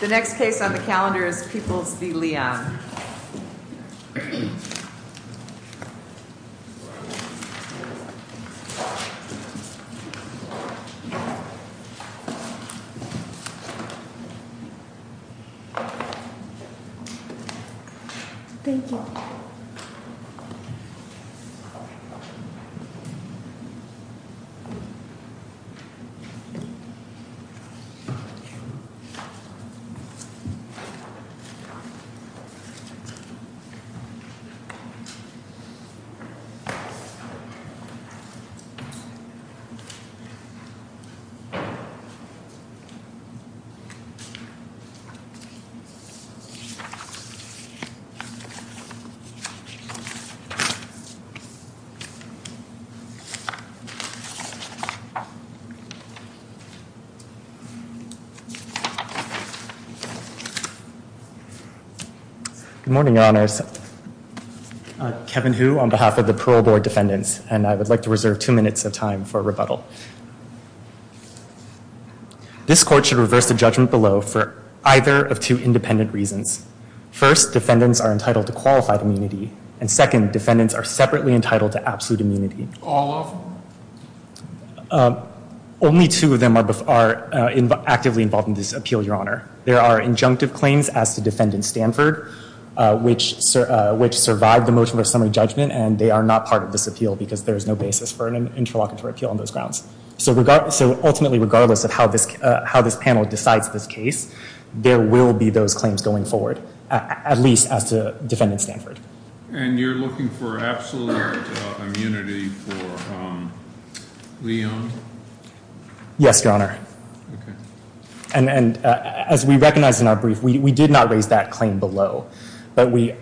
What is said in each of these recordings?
The next case on the calendar is Peoples v. Leon. This case is Peoples v. Leon. Good morning, Your Honors. I'm Kevin Hu on behalf of the Parole Board Defendants, and I would like to reserve two minutes of time for rebuttal. This court should reverse the judgment below for either of two independent reasons. First, defendants are entitled to qualified immunity, and second, defendants are separately entitled to absolute immunity. All of them? Only two of them are actively involved in this appeal, Your Honor. There are injunctive claims as to defendant Stanford, which survive the motion of summary judgment, and they are not part of this appeal because there is no basis for an interlocutory appeal on those grounds. So ultimately, regardless of how this panel decides this case, there will be those claims going forward, at least as to defendant Stanford. And you're looking for absolute immunity for Leon? Yes, Your Honor. And as we recognize in our brief, we did not raise that claim below, but we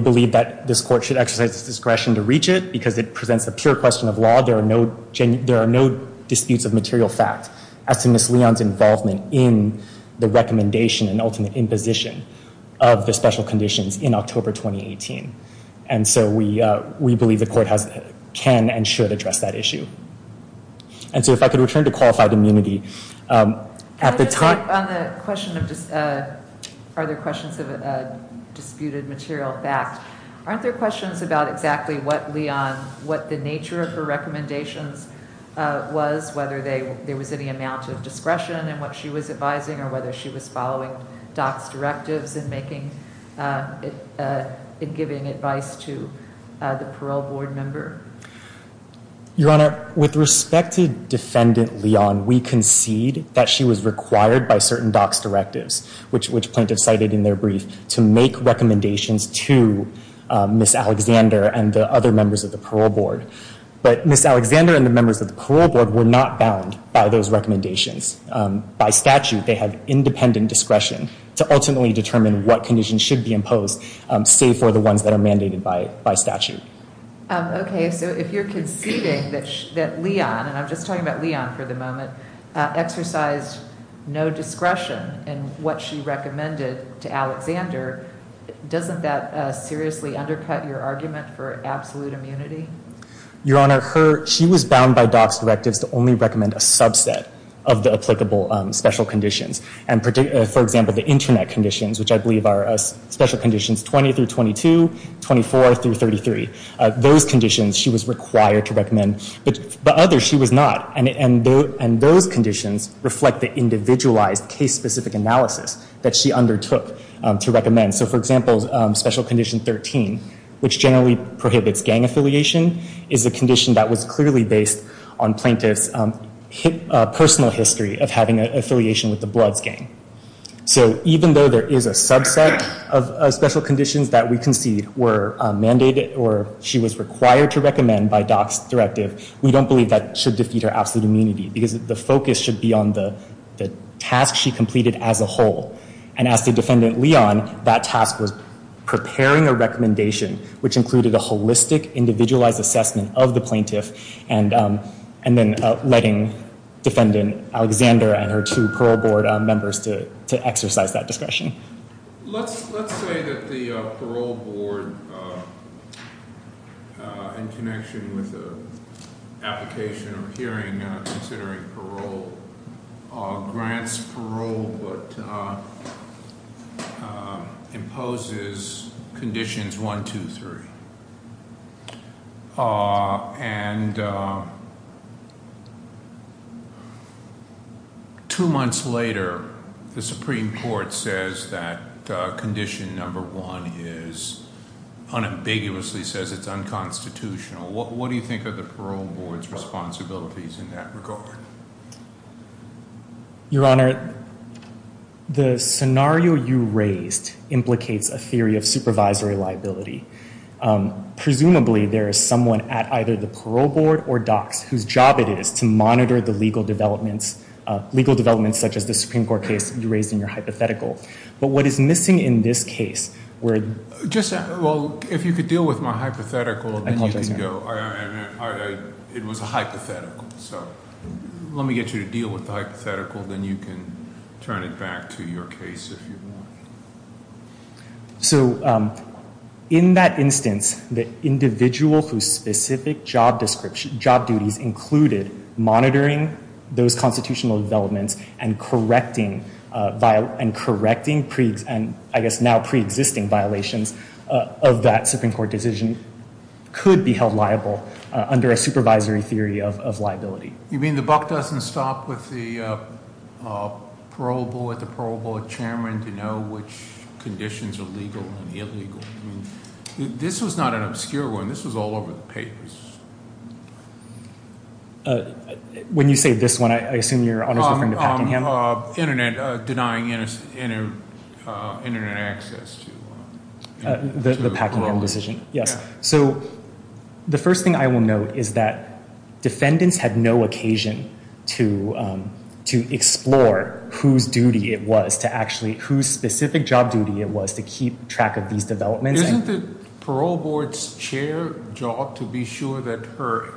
believe that this court should exercise its discretion to reach it because it presents a pure question of law. There are no disputes of material fact as to Ms. Leon's involvement in the recommendation and ultimate imposition of the special conditions in October 2018. And so we believe the court can and should address that issue. And so if I could return to qualified immunity. On the question of are there questions of disputed material fact, aren't there questions about exactly what Leon, what the nature of her recommendations was, whether there was any amount of discretion in what she was advising or whether she was following DOCS directives and giving advice to the parole board member? Your Honor, with respect to defendant Leon, we concede that she was required by certain DOCS directives, which plaintiffs cited in their brief, to make recommendations to Ms. Alexander and the other members of the parole board. But Ms. Alexander and the members of the parole board were not bound by those recommendations. By statute, they had independent discretion to ultimately determine what conditions should be imposed, save for the ones that are mandated by statute. Okay. So if you're conceding that Leon, and I'm just talking about Leon for the moment, exercised no discretion in what she recommended to Alexander, doesn't that seriously undercut your argument for absolute immunity? Your Honor, she was bound by DOCS directives to only recommend a subset of the applicable special conditions. For example, the Internet conditions, which I believe are special conditions 20 through 22, 24 through 33. Those conditions she was required to recommend, but others she was not. And those conditions reflect the individualized case-specific analysis that she undertook to recommend. So, for example, special condition 13, which generally prohibits gang affiliation, is a condition that was clearly based on plaintiffs' personal history of having an affiliation with the Bloods gang. So even though there is a subset of special conditions that we concede were mandated or she was required to recommend by DOCS directive, we don't believe that should defeat her absolute immunity because the focus should be on the task she completed as a whole. And as to Defendant Leon, that task was preparing a recommendation which included a holistic, individualized assessment of the plaintiff and then letting Defendant Alexander and her two parole board members to exercise that discretion. Let's say that the parole board, in connection with an application or hearing considering parole, grants parole but imposes conditions 1, 2, 3. And two months later, the Supreme Court says that condition number 1 is unambiguously says it's unconstitutional. What do you think of the parole board's responsibilities in that regard? Your Honor, the scenario you raised implicates a theory of supervisory liability. Presumably, there is someone at either the parole board or DOCS whose job it is to monitor the legal developments, legal developments such as the Supreme Court case you raised in your hypothetical. But what is missing in this case were— Well, if you could deal with my hypothetical— I apologize, Your Honor. It was a hypothetical, so let me get you to deal with the hypothetical. Then you can turn it back to your case if you want. So in that instance, the individual whose specific job duties included monitoring those constitutional developments and correcting pre—and I guess now pre-existing violations of that Supreme Court decision could be held liable under a supervisory theory of liability. You mean the buck doesn't stop with the parole board, the parole board chairman to know which conditions are legal and illegal? This was not an obscure one. This was all over the papers. When you say this one, I assume you're referring to Packingham? Internet—denying internet access to— The Packingham decision, yes. So the first thing I will note is that defendants had no occasion to explore whose duty it was to actually— whose specific job duty it was to keep track of these developments. Isn't the parole board's chair job to be sure that her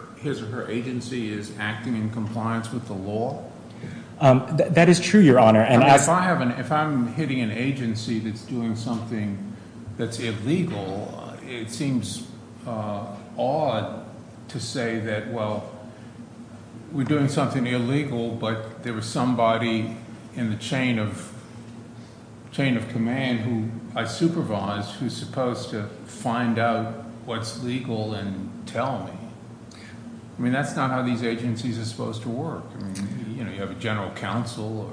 agency is acting in compliance with the law? That is true, Your Honor. If I'm hitting an agency that's doing something that's illegal, it seems odd to say that, well, we're doing something illegal, but there was somebody in the chain of command who I supervised who's supposed to find out what's legal and tell me. I mean that's not how these agencies are supposed to work. You have a general counsel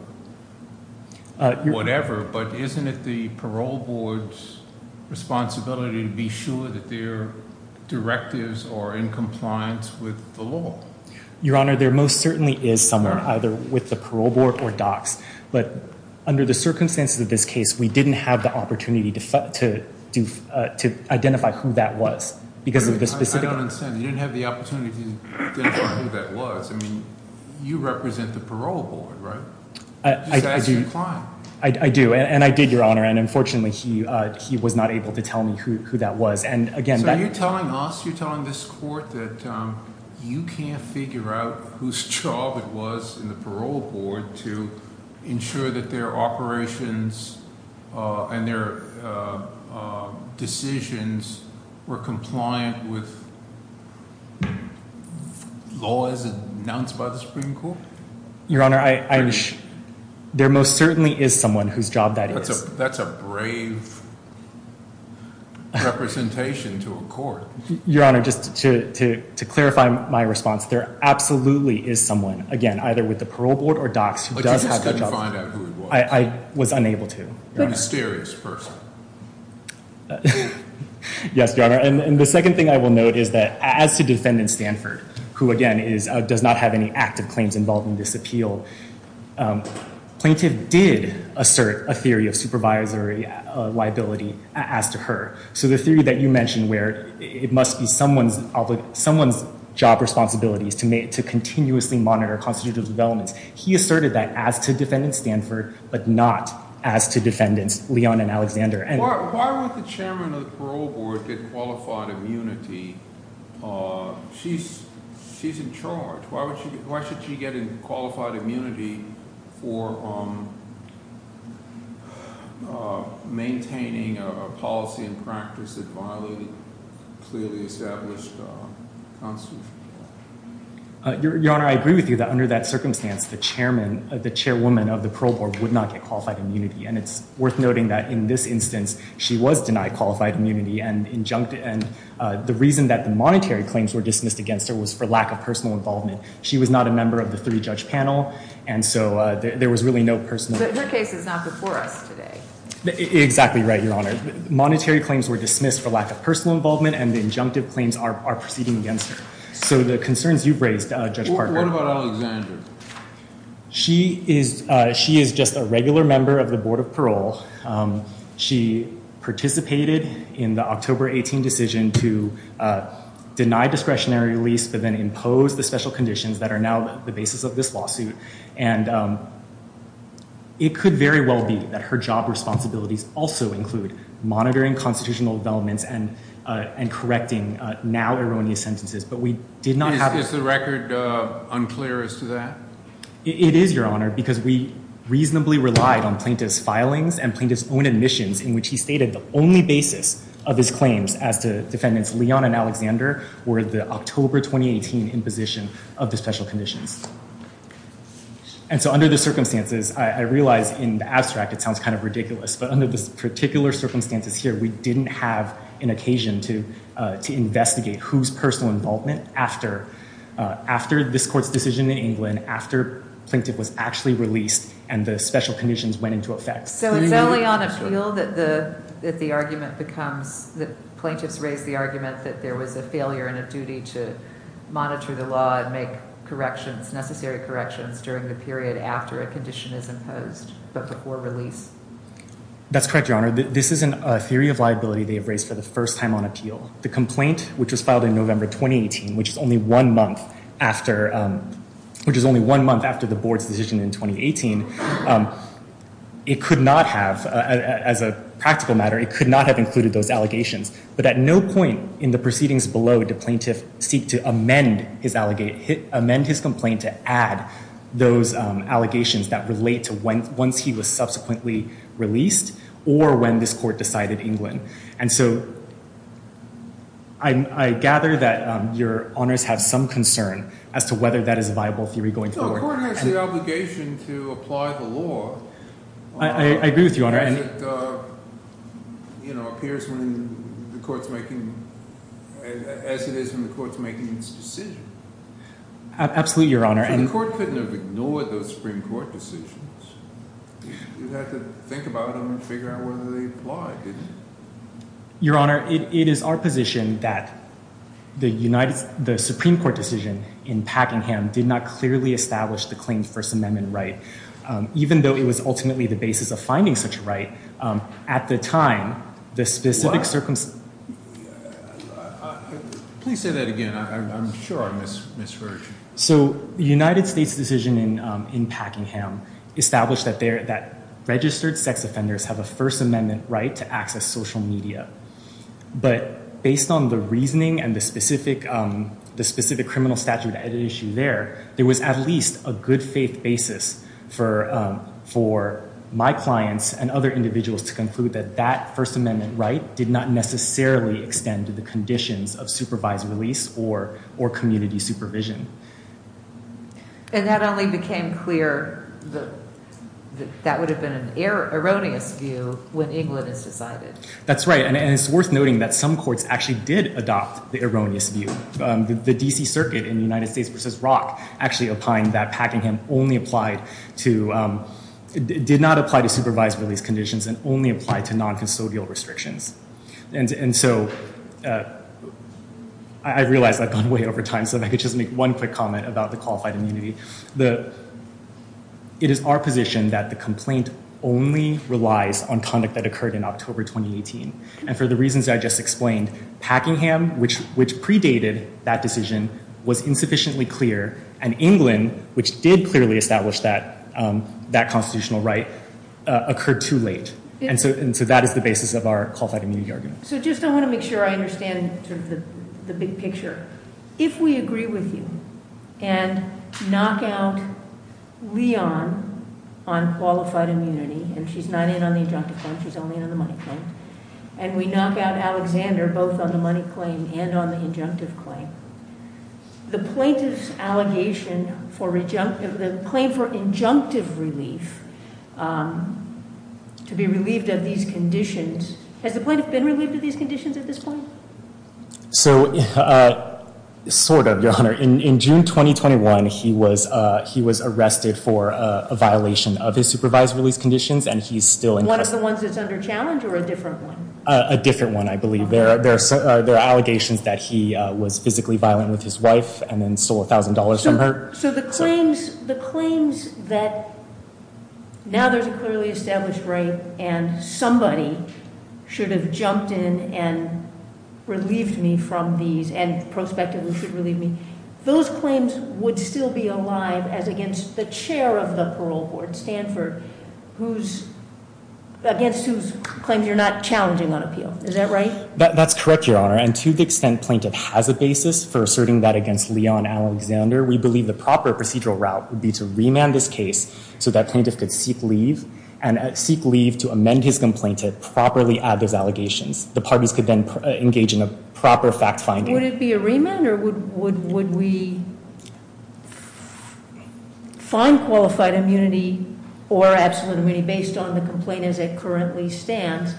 or whatever, but isn't it the parole board's responsibility to be sure that their directives are in compliance with the law? Your Honor, there most certainly is someone either with the parole board or DOCS, but under the circumstances of this case, we didn't have the opportunity to identify who that was because of the specific— I don't understand. You didn't have the opportunity to identify who that was. I mean you represent the parole board, right? I do, and I did, Your Honor, and unfortunately he was not able to tell me who that was. So you're telling us, you're telling this court that you can't figure out whose job it was in the parole board to ensure that their operations and their decisions were compliant with laws announced by the Supreme Court? Your Honor, there most certainly is someone whose job that is. That's a brave representation to a court. Your Honor, just to clarify my response, there absolutely is someone, again, either with the parole board or DOCS, who does have a job. But you just couldn't find out who it was? I was unable to, Your Honor. You're a mysterious person. Yes, Your Honor, and the second thing I will note is that as to defendant Stanford, who again does not have any active claims involving this appeal, plaintiff did assert a theory of supervisory liability as to her. So the theory that you mentioned where it must be someone's job responsibilities to continuously monitor constitutive developments. He asserted that as to defendant Stanford, but not as to defendants Leon and Alexander. Why would the chairman of the parole board get qualified immunity? She's in charge. Why should she get qualified immunity for maintaining a policy and practice that violated clearly established constitutions? Your Honor, I agree with you that under that circumstance, the chairwoman of the parole board would not get qualified immunity. And it's worth noting that in this instance, she was denied qualified immunity. And the reason that the monetary claims were dismissed against her was for lack of personal involvement. She was not a member of the three-judge panel, and so there was really no personal. But her case is not before us today. Exactly right, Your Honor. Monetary claims were dismissed for lack of personal involvement, and the injunctive claims are proceeding against her. So the concerns you've raised, Judge Parker. What about Alexander? She is just a regular member of the board of parole. She participated in the October 18 decision to deny discretionary release, but then impose the special conditions that are now the basis of this lawsuit. And it could very well be that her job responsibilities also include monitoring constitutional developments and correcting now erroneous sentences. But we did not have that. Is the record unclear as to that? It is, Your Honor, because we reasonably relied on plaintiff's filings and plaintiff's own admissions in which he stated the only basis of his claims as to defendants Leon and Alexander were the October 2018 imposition of the special conditions. And so under the circumstances, I realize in the abstract it sounds kind of ridiculous. But under the particular circumstances here, we didn't have an occasion to investigate whose personal involvement after this court's decision in England, after plaintiff was actually released and the special conditions went into effect. So it's only on appeal that the argument becomes the plaintiff's raised the argument that there was a failure and a duty to monitor the law and make corrections, necessary corrections during the period after a condition is imposed, but before release. That's correct, Your Honor. This isn't a theory of liability they have raised for the first time on appeal. The complaint, which was filed in November 2018, which is only one month after the board's decision in 2018, it could not have, as a practical matter, it could not have included those allegations. But at no point in the proceedings below did plaintiff seek to amend his complaint to add those allegations that relate to once he was subsequently released or when this court decided England. And so I gather that Your Honors have some concern as to whether that is a viable theory going forward. No, the court has the obligation to apply the law as it appears when the court's making, as it is when the court's making its decision. Absolutely, Your Honor. The court couldn't have ignored those Supreme Court decisions. You'd have to think about them and figure out whether they apply, didn't you? Your Honor, it is our position that the Supreme Court decision in Packingham did not clearly establish the claimed First Amendment right. Even though it was ultimately the basis of finding such a right, at the time, the specific circumstances- Please say that again. I'm sure I'm misheard. So the United States decision in Packingham established that registered sex offenders have a First Amendment right to access social media. But based on the reasoning and the specific criminal statute at issue there, there was at least a good faith basis for my clients and other individuals to conclude that that First Amendment right did not necessarily extend to the conditions of supervised release or community supervision. And that only became clear, that would have been an erroneous view when England is decided. That's right, and it's worth noting that some courts actually did adopt the erroneous view. The D.C. Circuit in the United States v. Rock actually opined that Packingham only applied to- did not apply to supervised release conditions and only applied to non-custodial restrictions. And so, I realize I've gone way over time, so if I could just make one quick comment about the qualified immunity. It is our position that the complaint only relies on conduct that occurred in October 2018. And for the reasons I just explained, Packingham, which predated that decision, was insufficiently clear. And England, which did clearly establish that constitutional right, occurred too late. And so that is the basis of our qualified immunity argument. So, just I want to make sure I understand the big picture. If we agree with you and knock out Leon on qualified immunity, and she's not in on the injunctive claim, she's only in on the money claim. And we knock out Alexander, both on the money claim and on the injunctive claim. The plaintiff's allegation for the claim for injunctive relief, to be relieved of these conditions, has the plaintiff been relieved of these conditions at this point? So, sort of, Your Honor. In June 2021, he was arrested for a violation of his supervised release conditions, and he's still- One of the ones that's under challenge or a different one? A different one, I believe. There are allegations that he was physically violent with his wife and then stole $1,000 from her. So, the claims that now there's a clearly established right and somebody should have jumped in and relieved me from these and prospectively should relieve me, those claims would still be alive as against the chair of the parole board, Stanford, against whose claims you're not challenging on appeal. Is that right? That's correct, Your Honor. And to the extent plaintiff has a basis for asserting that against Leon Alexander, we believe the proper procedural route would be to remand this case so that plaintiff could seek leave and seek leave to amend his complaint to properly add those allegations. The parties could then engage in a proper fact finding. Would it be a remand or would we find qualified immunity or absolute immunity based on the complaint as it currently stands,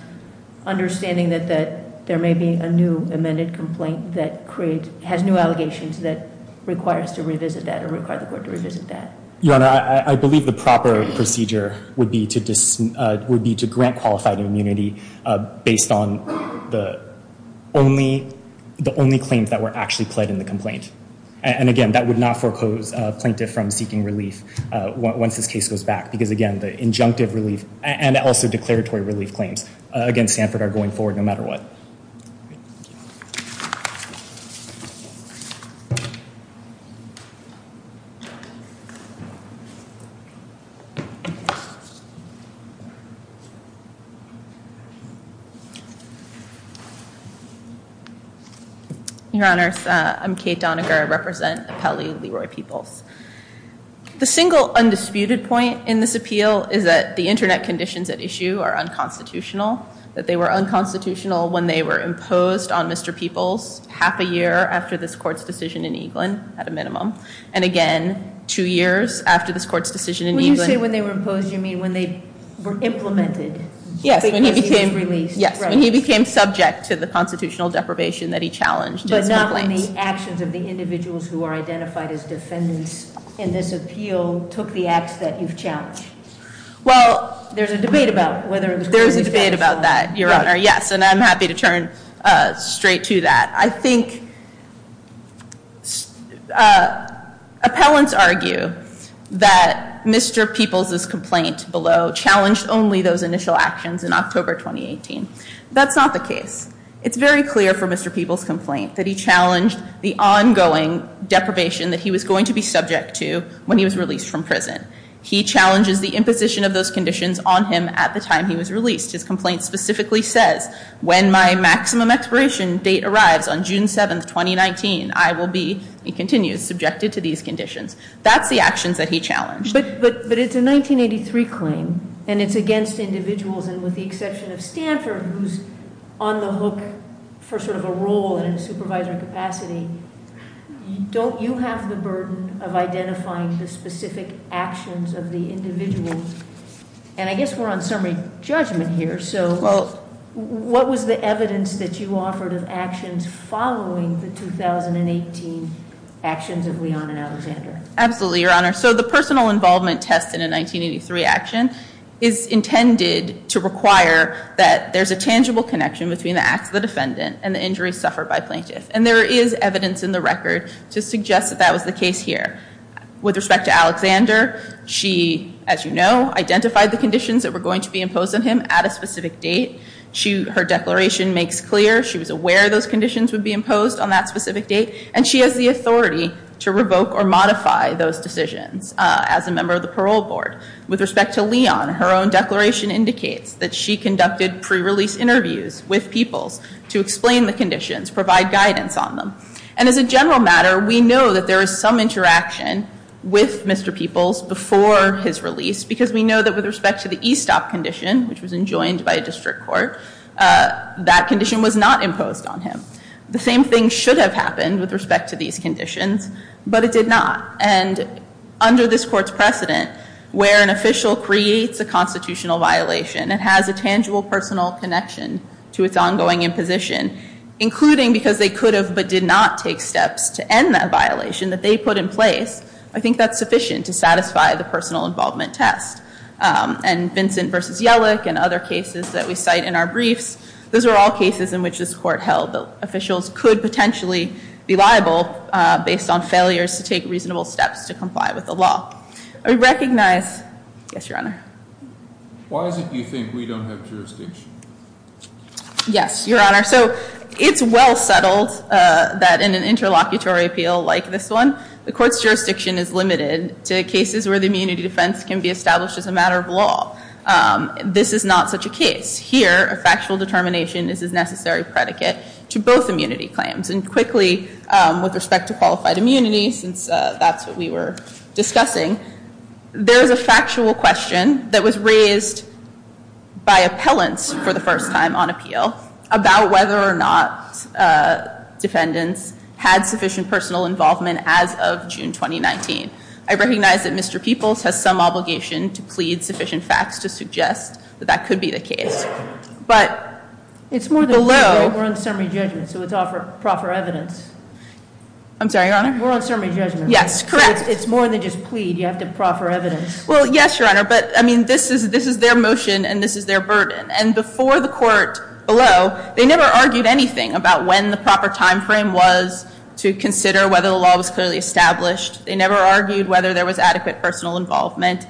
understanding that there may be a new amended complaint that has new allegations that requires to revisit that or require the court to revisit that? Your Honor, I believe the proper procedure would be to grant qualified immunity based on the only claims that were actually pled in the complaint. And again, that would not foreclose plaintiff from seeking relief once this case goes back. Because again, the injunctive relief and also declaratory relief claims against Stanford are going forward no matter what. Your Honor, I'm Kate Doniger. I represent Appellee Leroy Peoples. The single undisputed point in this appeal is that the internet conditions at issue are unconstitutional, that they were unconstitutional when they were imposed on Mr. Peoples half a year after this court's decision in Eaglin, at a minimum, and again two years after this court's decision in Eaglin. When you say when they were imposed, you mean when they were implemented? Yes, when he became subject to the constitutional deprivation that he challenged in his complaints. But not in the actions of the individuals who are identified as defendants in this appeal took the acts that you've challenged? Well, there's a debate about whether or not. There is a debate about that, Your Honor, yes, and I'm happy to turn straight to that. I think appellants argue that Mr. Peoples' complaint below challenged only those initial actions in October 2018. That's not the case. It's very clear from Mr. Peoples' complaint that he challenged the ongoing deprivation that he was going to be subject to when he was released from prison. He challenges the imposition of those conditions on him at the time he was released. His complaint specifically says, when my maximum expiration date arrives on June 7th, 2019, I will be, he continues, subjected to these conditions. That's the actions that he challenged. But it's a 1983 claim, and it's against individuals, and with the exception of Stanford, who's on the hook for sort of a role in a supervisory capacity. Don't you have the burden of identifying the specific actions of the individuals? And I guess we're on summary judgment here, so what was the evidence that you offered of actions following the 2018 actions of Leon and Alexander? Absolutely, Your Honor. So the personal involvement test in a 1983 action is intended to require that there's a tangible connection between the acts of the defendant and the injuries suffered by a plaintiff. And there is evidence in the record to suggest that that was the case here. With respect to Alexander, she, as you know, identified the conditions that were going to be imposed on him at a specific date. Her declaration makes clear she was aware those conditions would be imposed on that specific date, and she has the authority to revoke or modify those decisions as a member of the parole board. With respect to Leon, her own declaration indicates that she conducted pre-release interviews with peoples to explain the conditions, provide guidance on them. And as a general matter, we know that there is some interaction with Mr. Peoples before his release because we know that with respect to the E-stop condition, which was enjoined by a district court, that condition was not imposed on him. The same thing should have happened with respect to these conditions, but it did not. And under this court's precedent, where an official creates a constitutional violation, it has a tangible personal connection to its ongoing imposition, including because they could have but did not take steps to end that violation that they put in place. I think that's sufficient to satisfy the personal involvement test. And Vincent v. Yellick and other cases that we cite in our briefs, those are all cases in which this court held that officials could potentially be liable based on failures to take reasonable steps to comply with the law. I recognize... Yes, Your Honor. Why is it you think we don't have jurisdiction? Yes, Your Honor. So it's well settled that in an interlocutory appeal like this one, the court's jurisdiction is limited to cases where the immunity defense can be established as a matter of law. This is not such a case. Here, a factual determination is a necessary predicate to both immunity claims. And quickly, with respect to qualified immunity, since that's what we were discussing, there's a factual question that was raised by appellants for the first time on appeal about whether or not defendants had sufficient personal involvement as of June 2019. I recognize that Mr. Peoples has some obligation to plead sufficient facts to suggest that that could be the case. But below... It's more than just plead. We're on summary judgment, so it's all for proper evidence. I'm sorry, Your Honor? We're on summary judgment. Yes, correct. It's more than just plead. You have to proffer evidence. Well, yes, Your Honor. But, I mean, this is their motion, and this is their burden. And before the court below, they never argued anything about when the proper time frame was to consider whether the law was clearly established. They never argued whether there was adequate personal involvement.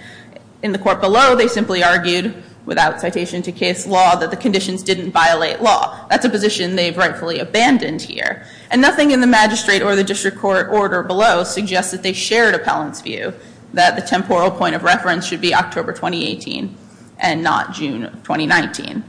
In the court below, they simply argued, without citation to case law, that the conditions didn't violate law. That's a position they've rightfully abandoned here. And nothing in the magistrate or the district court order below suggests that they shared appellant's view that the temporal point of reference should be October 2018 and not June 2019.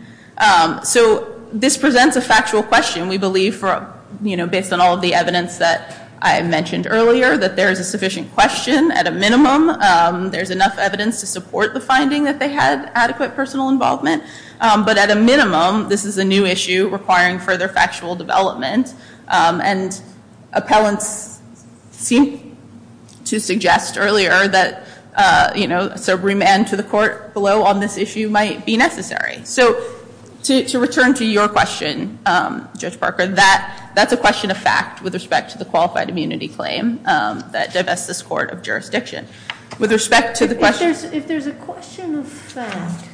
So this presents a factual question, we believe, based on all of the evidence that I mentioned earlier, that there is a sufficient question at a minimum. There's enough evidence to support the finding that they had adequate personal involvement. But at a minimum, this is a new issue requiring further factual development. And appellants seem to suggest earlier that subremand to the court below on this issue might be necessary. So to return to your question, Judge Parker, that's a question of fact with respect to the qualified immunity claim that divests this court of jurisdiction. With respect to the question- If there's a question of fact,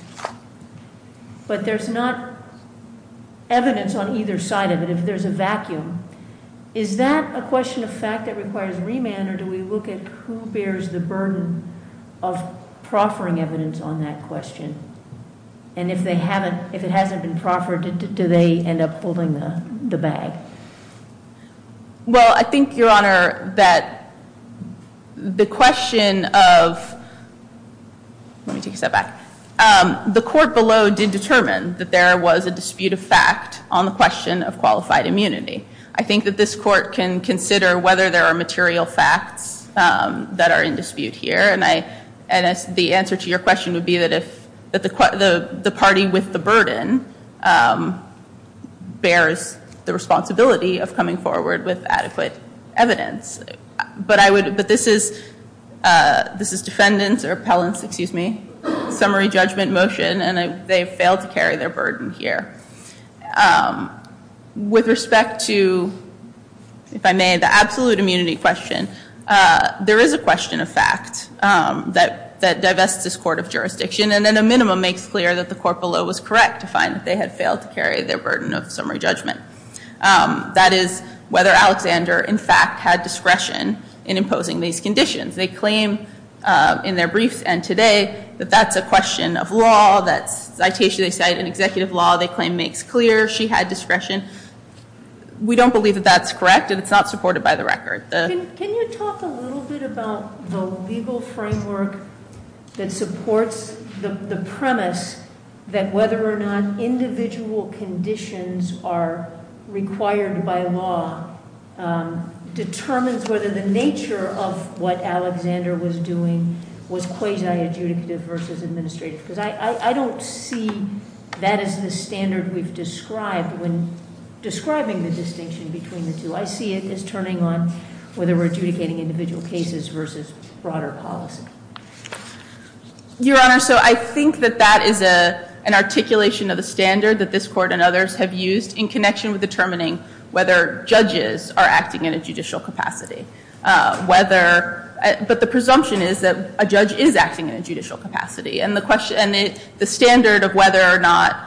but there's not evidence on either side of it. If there's a vacuum, is that a question of fact that requires remand? Or do we look at who bears the burden of proffering evidence on that question? And if it hasn't been proffered, do they end up holding the bag? Well, I think, Your Honor, that the question of- Let me take a step back. The court below did determine that there was a dispute of fact on the question of qualified immunity. I think that this court can consider whether there are material facts that are in dispute here. And the answer to your question would be that the party with the burden bears the responsibility of coming forward with adequate evidence. But this is defendant's or appellant's summary judgment motion, and they failed to carry their burden here. With respect to, if I may, the absolute immunity question, there is a question of fact that divests this court of jurisdiction, and at a minimum makes clear that the court below was correct to find that they had failed to carry their burden of summary judgment. That is whether Alexander, in fact, had discretion in imposing these conditions. They claim in their briefs and today that that's a question of law. That's citation they cite in executive law. They claim makes clear she had discretion. We don't believe that that's correct, and it's not supported by the record. Can you talk a little bit about the legal framework that supports the premise that whether or not individual conditions are required by law determines whether the nature of what Alexander was doing was quasi-adjudicative versus administrative? Because I don't see that as the standard we've described when describing the distinction between the two. I see it as turning on whether we're adjudicating individual cases versus broader policy. Your Honor, so I think that that is an articulation of the standard that this court and others have used in connection with determining whether judges are acting in a judicial capacity. But the presumption is that a judge is acting in a judicial capacity, and the standard of whether or not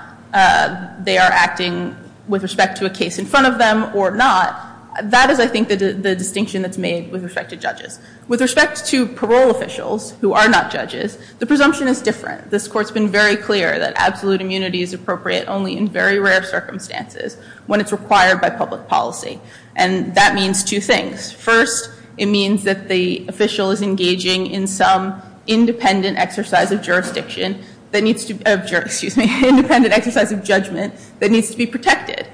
they are acting with respect to a case in front of them or not, that is, I think, the distinction that's made with respect to judges. With respect to parole officials who are not judges, the presumption is different. This Court's been very clear that absolute immunity is appropriate only in very rare circumstances when it's required by public policy, and that means two things. First, it means that the official is engaging in some independent exercise of jurisdiction that needs to be protected.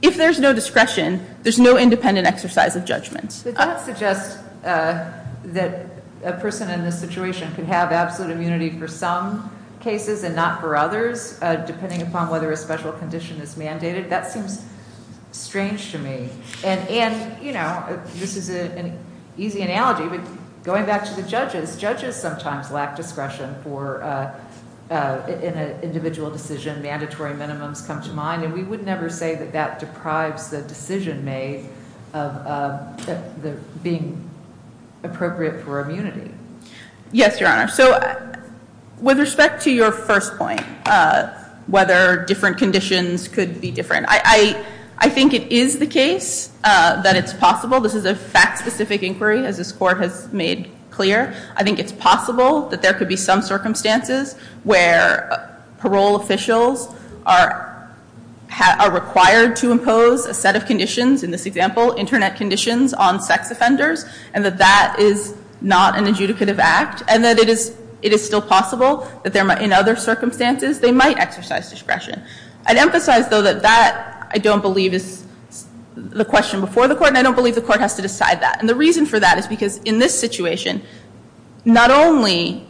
If there's no discretion, there's no independent exercise of judgment. The judge suggests that a person in this situation can have absolute immunity for some cases and not for others depending upon whether a special condition is mandated. That seems strange to me. And, you know, this is an easy analogy, but going back to the judges, judges sometimes lack discretion in an individual decision. Mandatory minimums come to mind, and we would never say that that deprives the decision made of being appropriate for immunity. Yes, Your Honor. So with respect to your first point, whether different conditions could be different, I think it is the case that it's possible. This is a fact-specific inquiry, as this Court has made clear. I think it's possible that there could be some circumstances where parole officials are required to impose a set of conditions, in this example, Internet conditions on sex offenders, and that that is not an adjudicative act, and that it is still possible that in other circumstances they might exercise discretion. I'd emphasize, though, that that, I don't believe, is the question before the Court, and I don't believe the Court has to decide that. And the reason for that is because in this situation, not only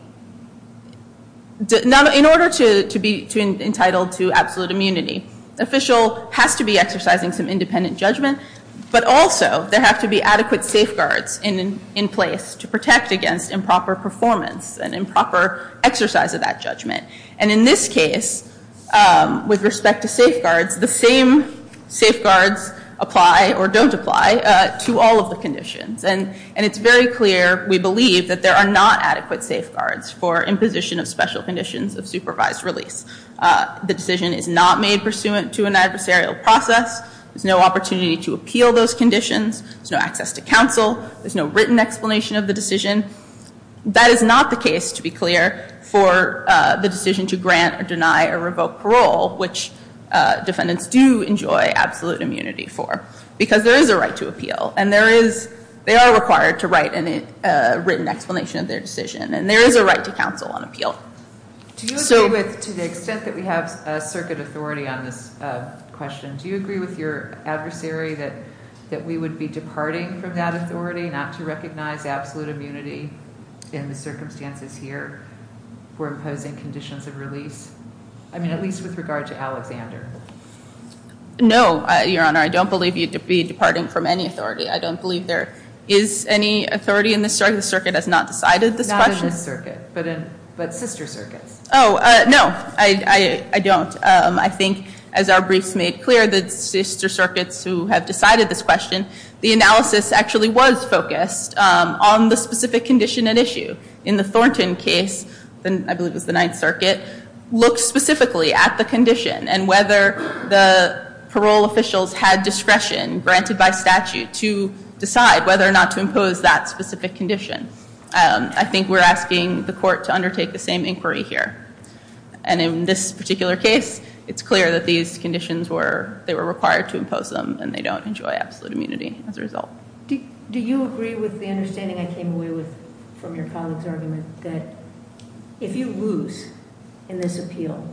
in order to be entitled to absolute immunity, the official has to be exercising some independent judgment, but also there have to be adequate safeguards in place to protect against improper performance and improper exercise of that judgment. And in this case, with respect to safeguards, the same safeguards apply or don't apply to all of the conditions. And it's very clear, we believe, that there are not adequate safeguards for imposition of special conditions of supervised release. The decision is not made pursuant to an adversarial process. There's no opportunity to appeal those conditions. There's no access to counsel. There's no written explanation of the decision. That is not the case, to be clear, for the decision to grant or deny or revoke parole, which defendants do enjoy absolute immunity for, because there is a right to appeal, and they are required to write a written explanation of their decision, and there is a right to counsel on appeal. Do you agree with, to the extent that we have circuit authority on this question, do you agree with your adversary that we would be departing from that authority not to recognize absolute immunity in the circumstances here for imposing conditions of release? I mean, at least with regard to Alexander. No, Your Honor. I don't believe you'd be departing from any authority. I don't believe there is any authority in this circuit. The circuit has not decided this question. Not in this circuit, but sister circuits. Oh, no, I don't. I think, as our briefs made clear, the sister circuits who have decided this question, the analysis actually was focused on the specific condition at issue. In the Thornton case, I believe it was the Ninth Circuit, looked specifically at the condition and whether the parole officials had discretion granted by statute to decide whether or not to impose that specific condition. I think we're asking the court to undertake the same inquiry here. And in this particular case, it's clear that these conditions were, they were required to impose them, and they don't enjoy absolute immunity as a result. Do you agree with the understanding I came away with from your colleague's argument that if you lose in this appeal,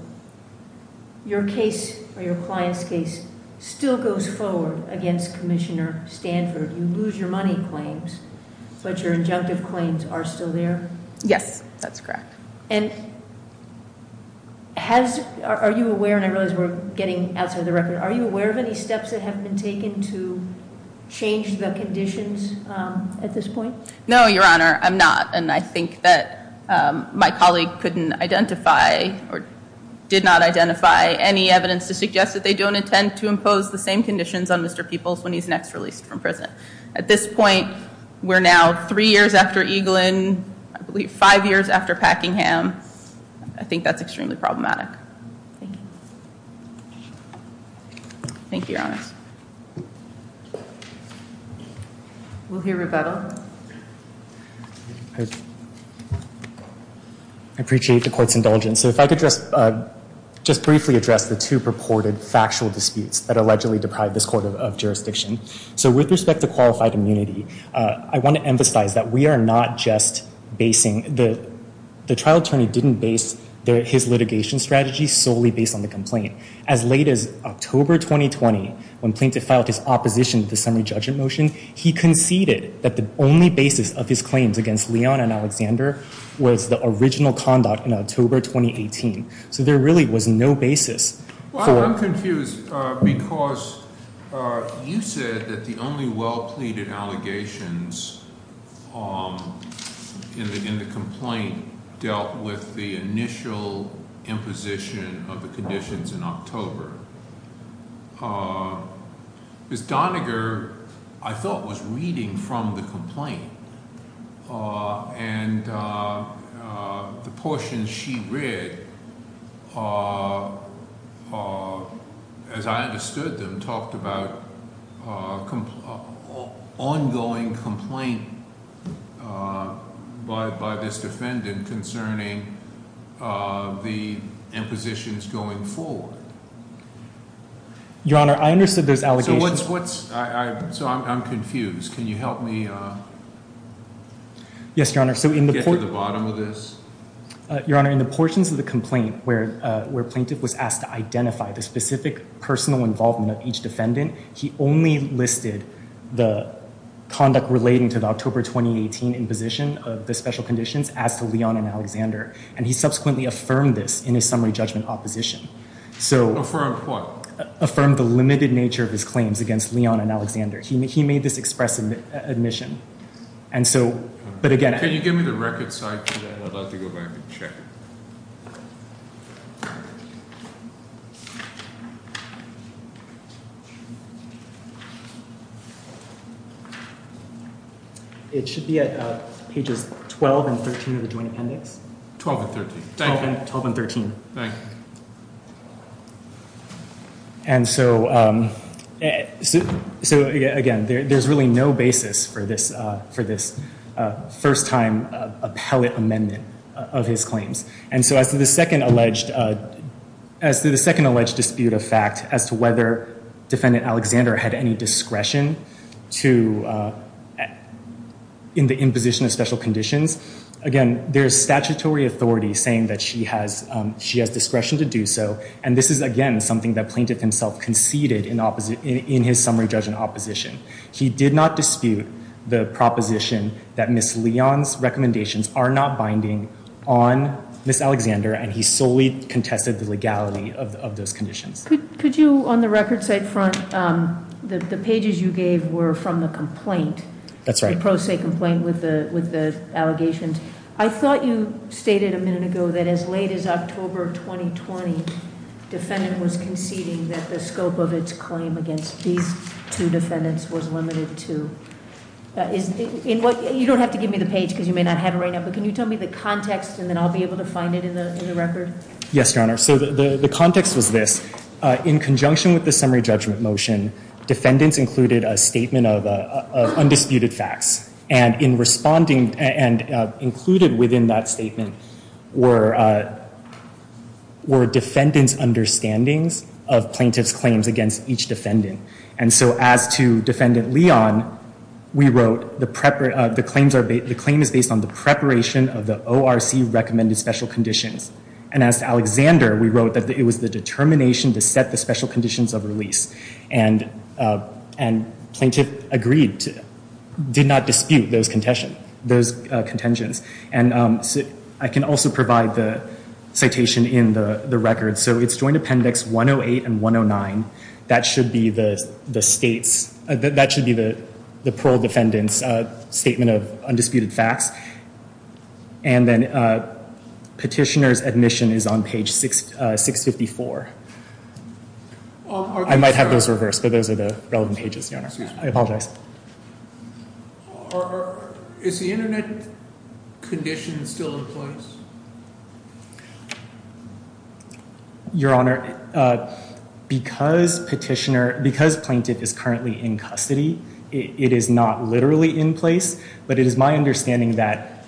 your case or your client's case still goes forward against Commissioner Stanford? You lose your money claims, but your injunctive claims are still there? Yes, that's correct. And are you aware, and I realize we're getting outside the record, are you aware of any steps that have been taken to change the conditions at this point? No, Your Honor, I'm not. And I think that my colleague couldn't identify or did not identify any evidence to suggest that they don't intend to impose the same conditions on Mr. Peoples when he's next released from prison. At this point, we're now three years after Eaglin, I believe five years after Packingham. I think that's extremely problematic. Thank you. Thank you, Your Honor. We'll hear Revetal. I appreciate the court's indulgence. So if I could just briefly address the two purported factual disputes that allegedly deprive this court of jurisdiction. So with respect to qualified immunity, I want to emphasize that we are not just basing, the trial attorney didn't base his litigation strategy solely based on the complaint. As late as October 2020, when plaintiff filed his opposition to the summary judgment motion, he conceded that the only basis of his claims against Leon and Alexander was the original conduct in October 2018. So there really was no basis. Well, I'm confused because you said that the only well-pleaded allegations in the complaint dealt with the initial imposition of the conditions in October. Ms. Doniger, I thought, was reading from the complaint, and the portions she read, as I understood them, talked about ongoing complaint by this defendant concerning the impositions going forward. Your Honor, I understood those allegations. So I'm confused. Can you help me get to the bottom of this? Your Honor, in the portions of the complaint where plaintiff was asked to identify the specific personal involvement of each defendant, he only listed the conduct relating to October 2018 imposition of the special conditions as to Leon and Alexander, and he subsequently affirmed this in his summary judgment opposition. Affirmed what? Affirmed the limited nature of his claims against Leon and Alexander. He made this express admission. Can you give me the record side? I'd like to go back and check it. It should be at pages 12 and 13 of the joint appendix. 12 and 13. Thank you. 12 and 13. Thank you. And so, again, there's really no basis for this first-time appellate amendment of his claims. And so as to the second alleged decision to dispute a fact as to whether defendant Alexander had any discretion in the imposition of special conditions, again, there's statutory authority saying that she has discretion to do so. And this is, again, something that plaintiff himself conceded in his summary judgment opposition. He did not dispute the proposition that Ms. Leon's recommendations are not binding on Ms. Alexander, and he solely contested the legality of those conditions. Could you, on the record side front, the pages you gave were from the complaint. That's right. The pro se complaint with the allegations. I thought you stated a minute ago that as late as October 2020, defendant was conceding that the scope of its claim against these two defendants was limited to. You don't have to give me the page because you may not have it right now, but can you tell me the context and then I'll be able to find it in the record? Yes, Your Honor. So the context was this. In conjunction with the summary judgment motion, defendants included a statement of undisputed facts. And included within that statement were defendants' understandings of plaintiff's claims against each defendant. And so as to Defendant Leon, we wrote the claim is based on the preparation of the ORC recommended special conditions. And as to Alexander, we wrote that it was the determination to set the special conditions of release. And plaintiff agreed to, did not dispute those contentions. And I can also provide the citation in the record. So it's Joint Appendix 108 and 109. That should be the state's, that should be the parole defendant's statement of undisputed facts. And then petitioner's admission is on page 654. I might have those reversed, but those are the relevant pages, I apologize. Is the internet condition still in place? Your Honor, because petitioner, because plaintiff is currently in custody, it is not literally in place. But it is my understanding that.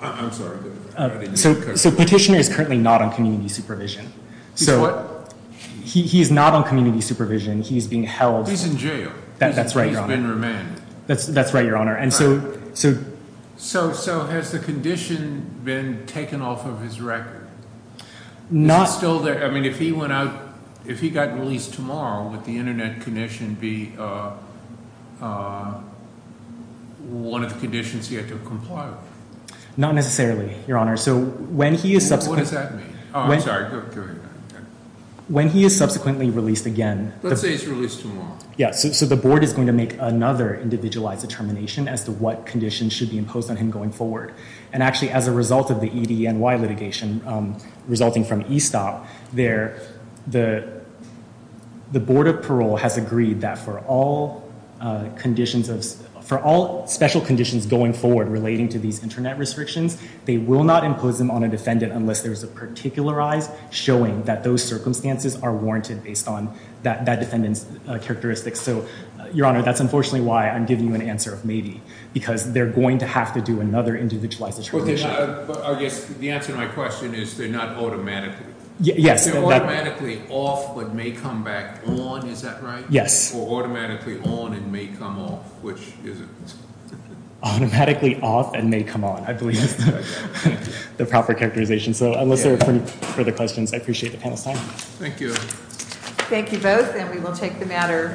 I'm sorry. So petitioner is currently not on community supervision. He's what? He's not on community supervision. He's being held. He's in jail. That's right, Your Honor. That's right, Your Honor. And so. So has the condition been taken off of his record? Is it still there? I mean, if he went out, if he got released tomorrow, would the internet condition be one of the conditions he had to comply with? Not necessarily, Your Honor. So when he is subsequently. What does that mean? Oh, I'm sorry. Go ahead. When he is subsequently released again. Let's say he's released tomorrow. Yeah. So the board is going to make another individualized determination as to what conditions should be imposed on him going forward. And actually, as a result of the EDNY litigation resulting from E-Stop there, the board of parole has agreed that for all special conditions going forward relating to these internet restrictions, they will not impose them on a defendant unless there is a particularized showing that those circumstances are warranted based on that defendant's characteristics. So Your Honor, that's unfortunately why I'm giving you an answer of maybe, because they're going to have to do another individualized determination. I guess the answer to my question is they're not automatically. Yes. They're automatically off but may come back on. Is that right? Yes. Or automatically on and may come off, which is it? Automatically off and may come on, I believe, the proper characterization. So unless there are any further questions, I appreciate the panel's time. Thank you. Thank you both. And we will take the matter under a vote.